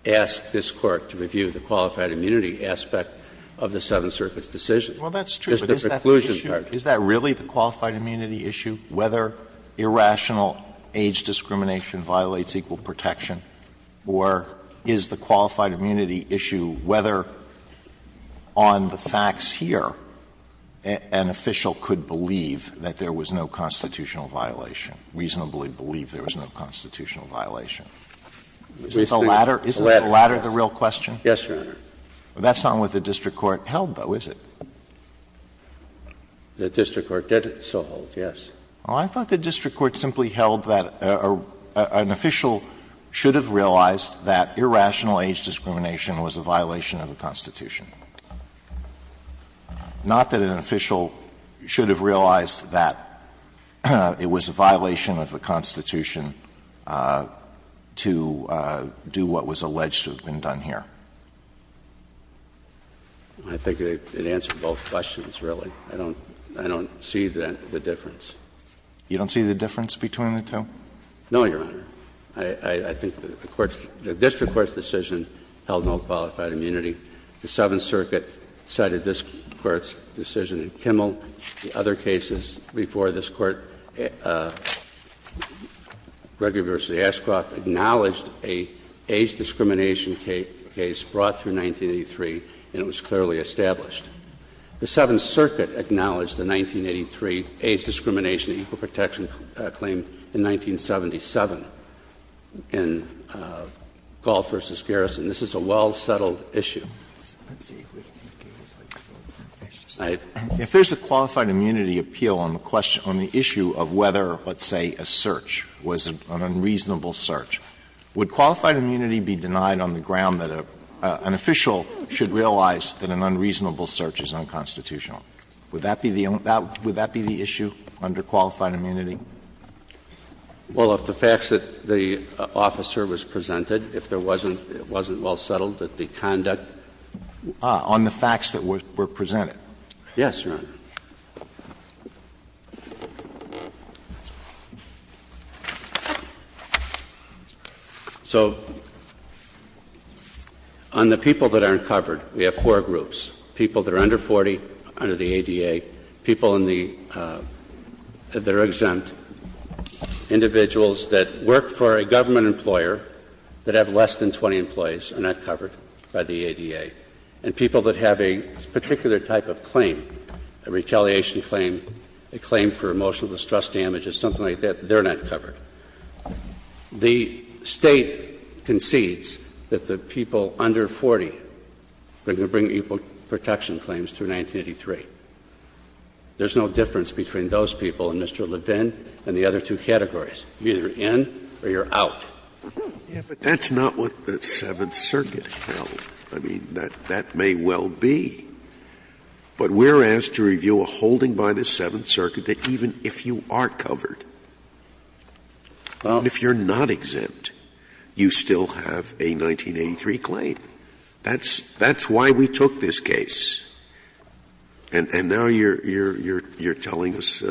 asked this Court to review the qualified immunity aspect of the Seventh Circuit's decision. Well, that's true. But is that the issue? Is that really the qualified immunity issue, whether irrational age discrimination violates equal protection, or is the qualified immunity issue whether on the facts here an official could believe that there was no constitutional violation, reasonably believe there was no constitutional violation? Is the latter, isn't the latter the real question? Yes, Your Honor. That's not what the district court held, though, is it? The district court did so hold, yes. Well, I thought the district court simply held that an official should have realized that irrational age discrimination was a violation of the Constitution, not that an official should have realized that it was a violation of the Constitution to do what was alleged to have been done here. I think it answered both questions, really. I don't see the difference. You don't see the difference between the two? No, Your Honor. I think the district court's decision held no qualified immunity. The Seventh Circuit cited this Court's decision in Kimmel. The other cases before this Court, Gregory v. Ashcroft, acknowledged an age discrimination case brought through 1983, and it was clearly established. The Seventh Circuit acknowledged the 1983 age discrimination equal protection claim in 1977 in Galt v. Garrison. This is a well-settled issue. If there's a qualified immunity appeal on the issue of whether, let's say, a search was an unreasonable search, would qualified immunity be denied on the ground that an official should realize that an unreasonable search is unconstitutional? Would that be the issue under qualified immunity? Well, if the facts that the officer was presented, if it wasn't well settled, that the conduct. On the facts that were presented? Yes, Your Honor. So, on the people that aren't covered, we have four groups. People that are under 40, under the ADA. People in the, that are exempt. Individuals that work for a government employer that have less than 20 employees are not covered by the ADA. And people that have a particular type of claim, a retaliation claim, a claim for emotional distress damage or something like that, they're not covered. The State concedes that the people under 40 are going to bring equal protection claims through 1983. There's no difference between those people and Mr. Levin and the other two categories. You're either in or you're out. Scalia, but that's not what the Seventh Circuit held. I mean, that may well be, but we're asked to review a holding by the Seventh Circuit that even if you are covered, even if you're not exempt, you still have a 1983 claim. That's why we took this case. And now you're telling us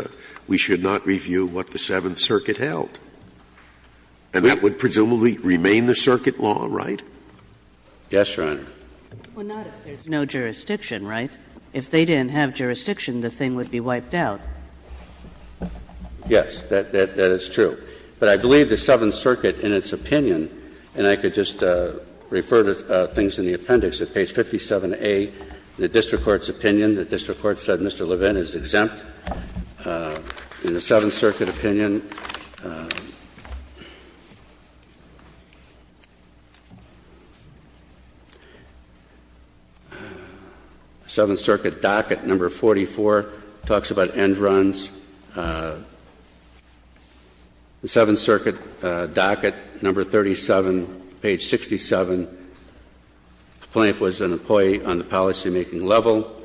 we should not review what the Seventh Circuit held. And that would presumably remain the circuit law, right? Yes, Your Honor. Well, not if there's no jurisdiction, right? If they didn't have jurisdiction, the thing would be wiped out. Yes, that is true. But I believe the Seventh Circuit in its opinion, and I could just refer to things in the appendix at page 57A, the district court's opinion, the district court said Mr. Levin is exempt. In the Seventh Circuit opinion, the Seventh Circuit docket, number 44, talks about end-runs. The Seventh Circuit docket, number 37, page 67, the plaintiff was an employee on the policymaking level.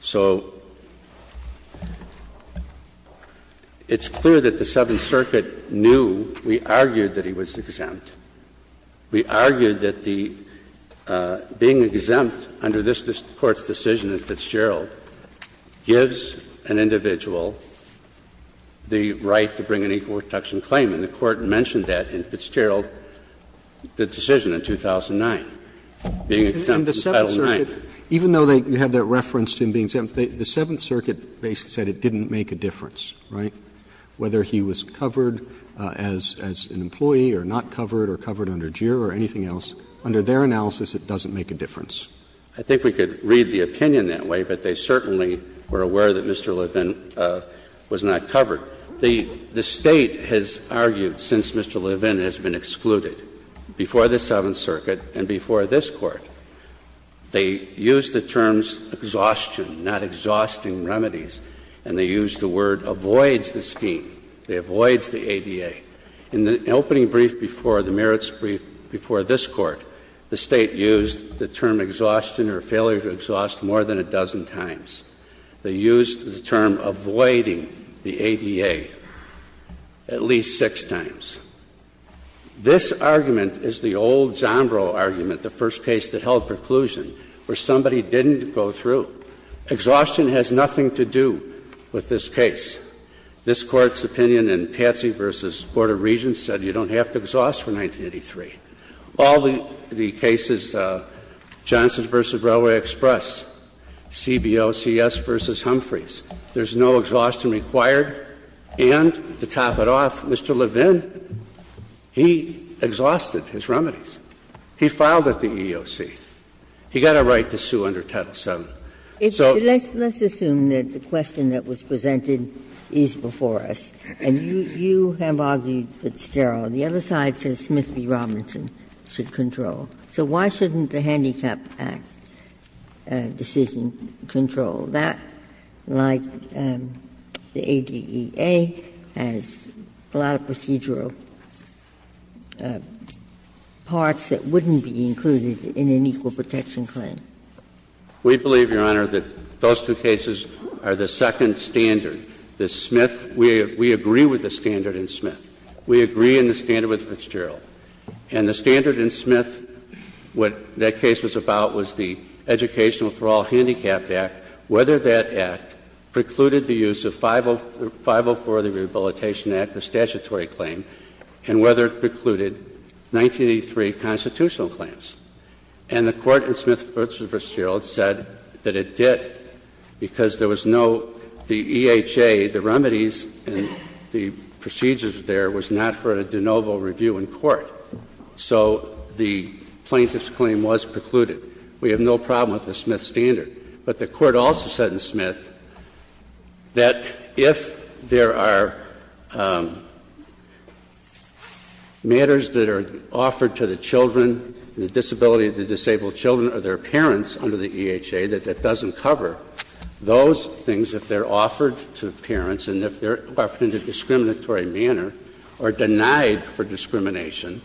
So it's clear that the Seventh Circuit knew, we argued, that he was exempt. We argued that the being exempt under this Court's decision in Fitzgerald gives an individual the right to bring an equal protection claim, and the Court mentioned that in Fitzgerald, the decision in 2009, being exempt from Title IX. Even though you have that reference to him being exempt, the Seventh Circuit basically said it didn't make a difference, right? Whether he was covered as an employee or not covered or covered under JIRA or anything else, under their analysis, it doesn't make a difference. I think we could read the opinion that way, but they certainly were aware that Mr. Levin was not covered. The State has argued since Mr. Levin has been excluded before the Seventh Circuit and before this Court, they use the terms ''exhaustion'', not ''exhausting remedies'', and they use the word ''avoids the scheme'', they avoids the ADA. In the opening brief before, the merits brief before this Court, the State used the term ''exhaustion'' or failure to exhaust more than a dozen times. They used the term ''avoiding the ADA'' at least six times. This argument is the old Zombro argument, the first case that held preclusion, where somebody didn't go through. ''Exhaustion'' has nothing to do with this case. This Court's opinion in Patsy v. Board of Regents said you don't have to exhaust for 1983. All the cases, Johnson v. Railway Express, CBOCS v. Humphreys, there's no ''exhaustion'' required, and, to top it off, Mr. Levin, he exhausted his remedies. He filed at the EEOC. He got a right to sue under Title VII. So let's assume that the question that was presented is before us, and you have argued Fitzgerald. The other side says Smith v. Robinson should control. So why shouldn't the Handicap Act decision control that, like the EEOC, and the other side says the ADA has a lot of procedural parts that wouldn't be included in an equal protection claim? We believe, Your Honor, that those two cases are the second standard. The Smith, we agree with the standard in Smith. We agree in the standard with Fitzgerald. And the standard in Smith, what that case was about was the Educational For All Handicapped Act, whether that act precluded the use of 504 of the Rehabilitation Act, the statutory claim, and whether it precluded 1983 constitutional claims. And the Court in Smith v. Fitzgerald said that it did, because there was no the EHA, the remedies and the procedures there was not for a de novo review in court. So the plaintiff's claim was precluded. We have no problem with the Smith standard. But the Court also said in Smith that if there are matters that are offered to the children, the disability of the disabled children or their parents under the EHA that that doesn't cover, those things, if they're offered to parents and if they're offered in a discriminatory manner or denied for discrimination,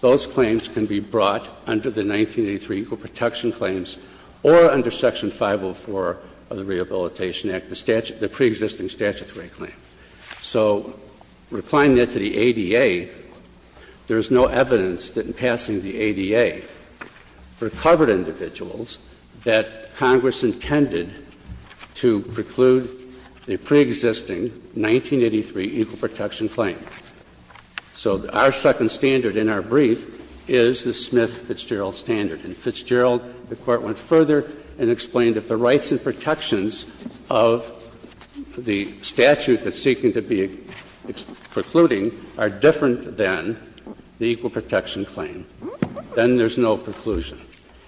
those claims can be brought under the 1983 equal protection claims or under Section 504 of the Rehabilitation Act, the pre-existing statutory claim. So replying that to the ADA, there is no evidence that in passing the ADA, recovered individuals that Congress intended to preclude the pre-existing 1983 equal protection claim. So our second standard in our brief is the Smith-Fitzgerald standard. In Fitzgerald, the Court went further and explained if the rights and protections of the statute that's seeking to be precluding are different than the equal protection claim, then there's no preclusion.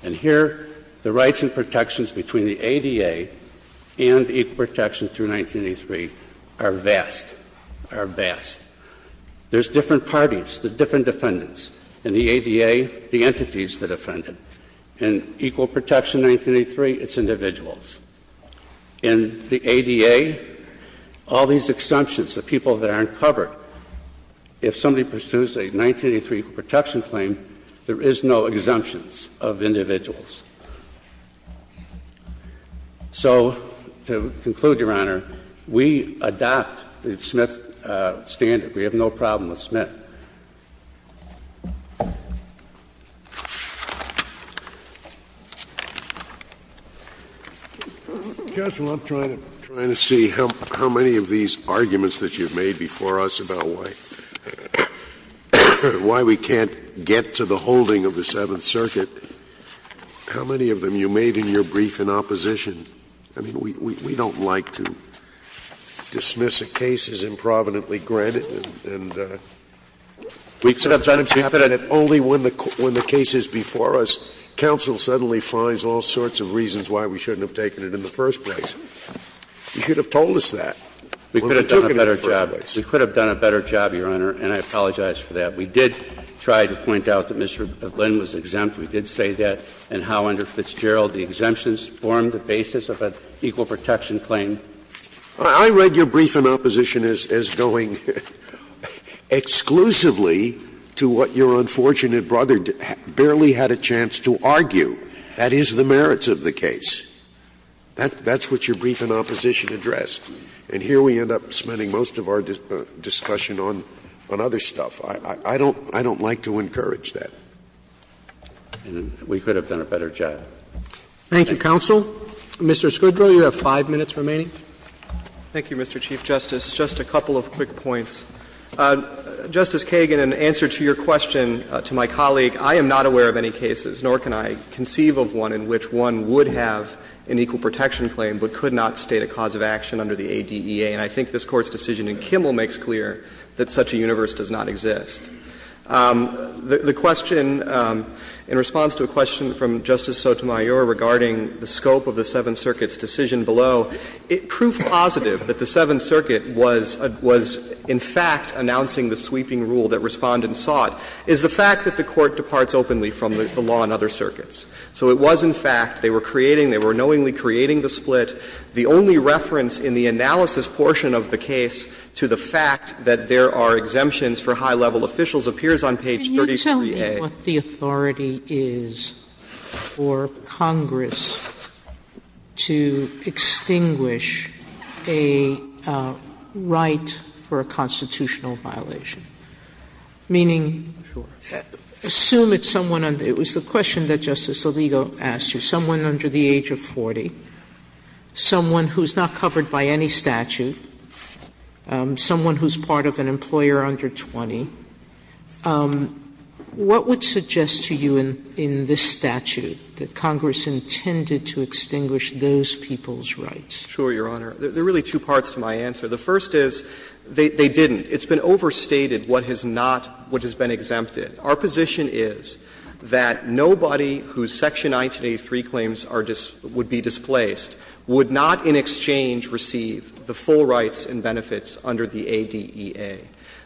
And here, the rights and protections between the ADA and equal protection through 1983 are vast, are vast. There's different parties, the different defendants, and the ADA, the entities that defend it. In equal protection 1983, it's individuals. In the ADA, all these exemptions, the people that aren't covered, if somebody pursues a 1983 equal protection claim, there is no exemptions of individuals. So to conclude, Your Honor, we adopt the Smith standard. We have no problem with Smith. Counsel, I'm trying to see how many of these arguments that you've made before us about why we can't get to the holding of the Seventh Circuit, how many of them you made in your brief in opposition? I mean, we don't like to dismiss a case as improvidently granted and only when the case is before us, counsel suddenly finds all sorts of reasons why we shouldn't have taken it in the first place. You should have told us that when we took it in the first place. We could have done a better job, Your Honor, and I apologize for that. We did try to point out that Mr. Glynn was exempt. We did say that in Howe under Fitzgerald. The exemptions formed the basis of an equal protection claim. Scalia's I read your brief in opposition as going exclusively to what your unfortunate brother barely had a chance to argue, that is, the merits of the case. That's what your brief in opposition addressed. And here we end up spending most of our discussion on other stuff. I don't like to encourage that. We could have done a better job. Thank you, counsel. Mr. Scodro, you have 5 minutes remaining. Thank you, Mr. Chief Justice. Just a couple of quick points. Justice Kagan, in answer to your question to my colleague, I am not aware of any cases, nor can I conceive of one in which one would have an equal protection claim but could not state a cause of action under the ADEA, and I think this Court's decision in Kimmel makes clear that such a universe does not exist. The question, in response to a question from Justice Sotomayor regarding the scope of the Seventh Circuit's decision below, it proved positive that the Seventh Circuit was in fact announcing the sweeping rule that Respondents sought, is the fact that the Court departs openly from the law in other circuits. So it was, in fact, they were creating, they were knowingly creating the split. The only reference in the analysis portion of the case to the fact that there are exemptions for high-level officials appears on page 33A. Sotomayor, what the authority is for Congress to extinguish a right for a constitutional violation? Meaning, assume it's someone under the age of 40, someone who is not covered by any under 20, what would suggest to you in this statute that Congress intended to extinguish those people's rights? Sure, Your Honor. There are really two parts to my answer. The first is, they didn't. It's been overstated what has not, what has been exempted. Our position is that nobody whose Section 1983 claims are just, would be displaced would not in exchange receive the full rights and benefits under the ADEA.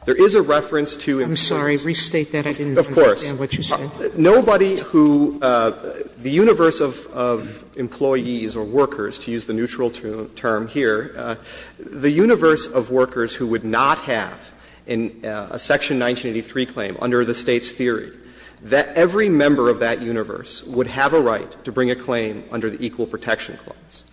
There is a reference to employees. I'm sorry, restate that. I didn't understand what you said. Of course. Nobody who, the universe of employees or workers, to use the neutral term here, the universe of workers who would not have a Section 1983 claim under the State's theory, that every member of that universe would have a right to bring a claim under the Equal Protection Clause.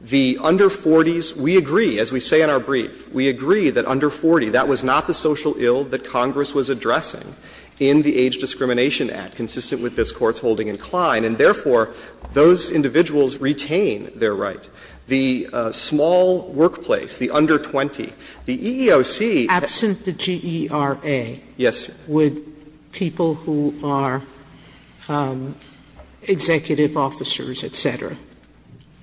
The under 40s, we agree, as we say in our brief, we agree that under 40, that was not the social ill that Congress was addressing in the Age Discrimination Act, consistent with this Court's holding in Klein. And therefore, those individuals retain their right. The small workplace, the under 20, the EEOC. Absent the GERA, would people who are executive officers, et cetera,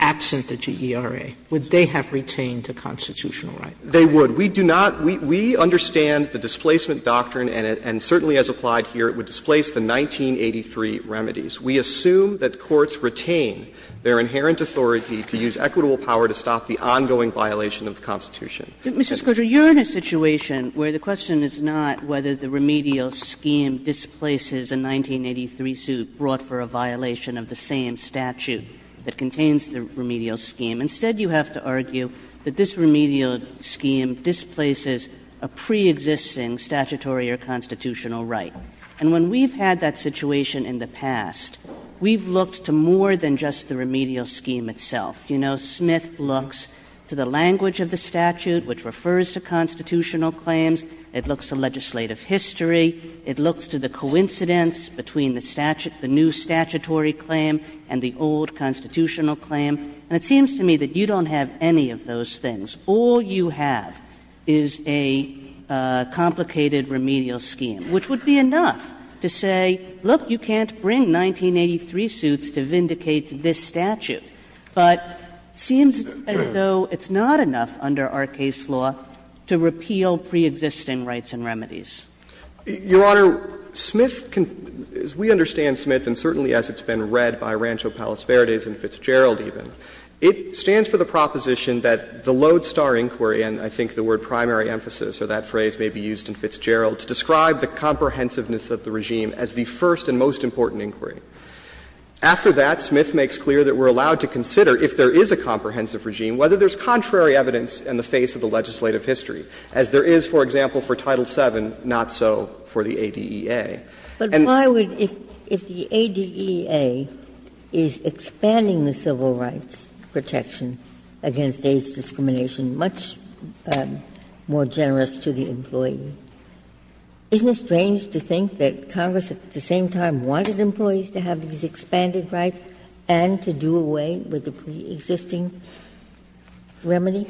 absent the GERA, would they have retained a constitutional right? They would. We do not – we understand the displacement doctrine, and certainly as applied here, it would displace the 1983 remedies. We assume that courts retain their inherent authority to use equitable power to stop the ongoing violation of the Constitution. Kagan, you're in a situation where the question is not whether the remedial scheme displaces a 1983 suit brought for a violation of the same statute that contains the remedial scheme. Instead, you have to argue that this remedial scheme displaces a pre-existing statutory or constitutional right. And when we've had that situation in the past, we've looked to more than just the remedial scheme itself. You know, Smith looks to the language of the statute, which refers to constitutional claims. It looks to legislative history. It looks to the coincidence between the new statutory claim and the old constitutional claim. And it seems to me that you don't have any of those things. All you have is a complicated remedial scheme, which would be enough to say, look, you can't bring 1983 suits to vindicate this statute. But it seems as though it's not enough under our case law to repeal pre-existing rights and remedies. Your Honor, Smith can – as we understand Smith, and certainly as it's been read by Rancho Palos Verdes and Fitzgerald even, it stands for the proposition that the Lodestar inquiry, and I think the word primary emphasis or that phrase may be used in Fitzgerald, to describe the comprehensiveness of the regime as the first and most important inquiry. After that, Smith makes clear that we're allowed to consider, if there is a comprehensive regime, whether there's contrary evidence in the face of the legislative history, as there is, for example, for Title VII, not so for the ADEA. Ginsburg. But why would, if the ADEA is expanding the civil rights protection against AIDS discrimination, much more generous to the employee, isn't it strange to think that Congress at the same time wanted employees to have these expanded rights and to do away with the pre-existing remedy?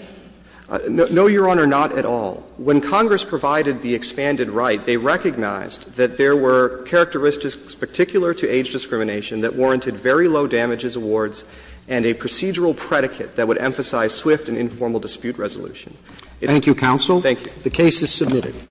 No, Your Honor, not at all. When Congress provided the expanded right, they recognized that there were characteristics particular to AIDS discrimination that warranted very low damages awards and a procedural predicate that would emphasize swift and informal dispute resolution. Thank you, counsel. Thank you. The case is submitted.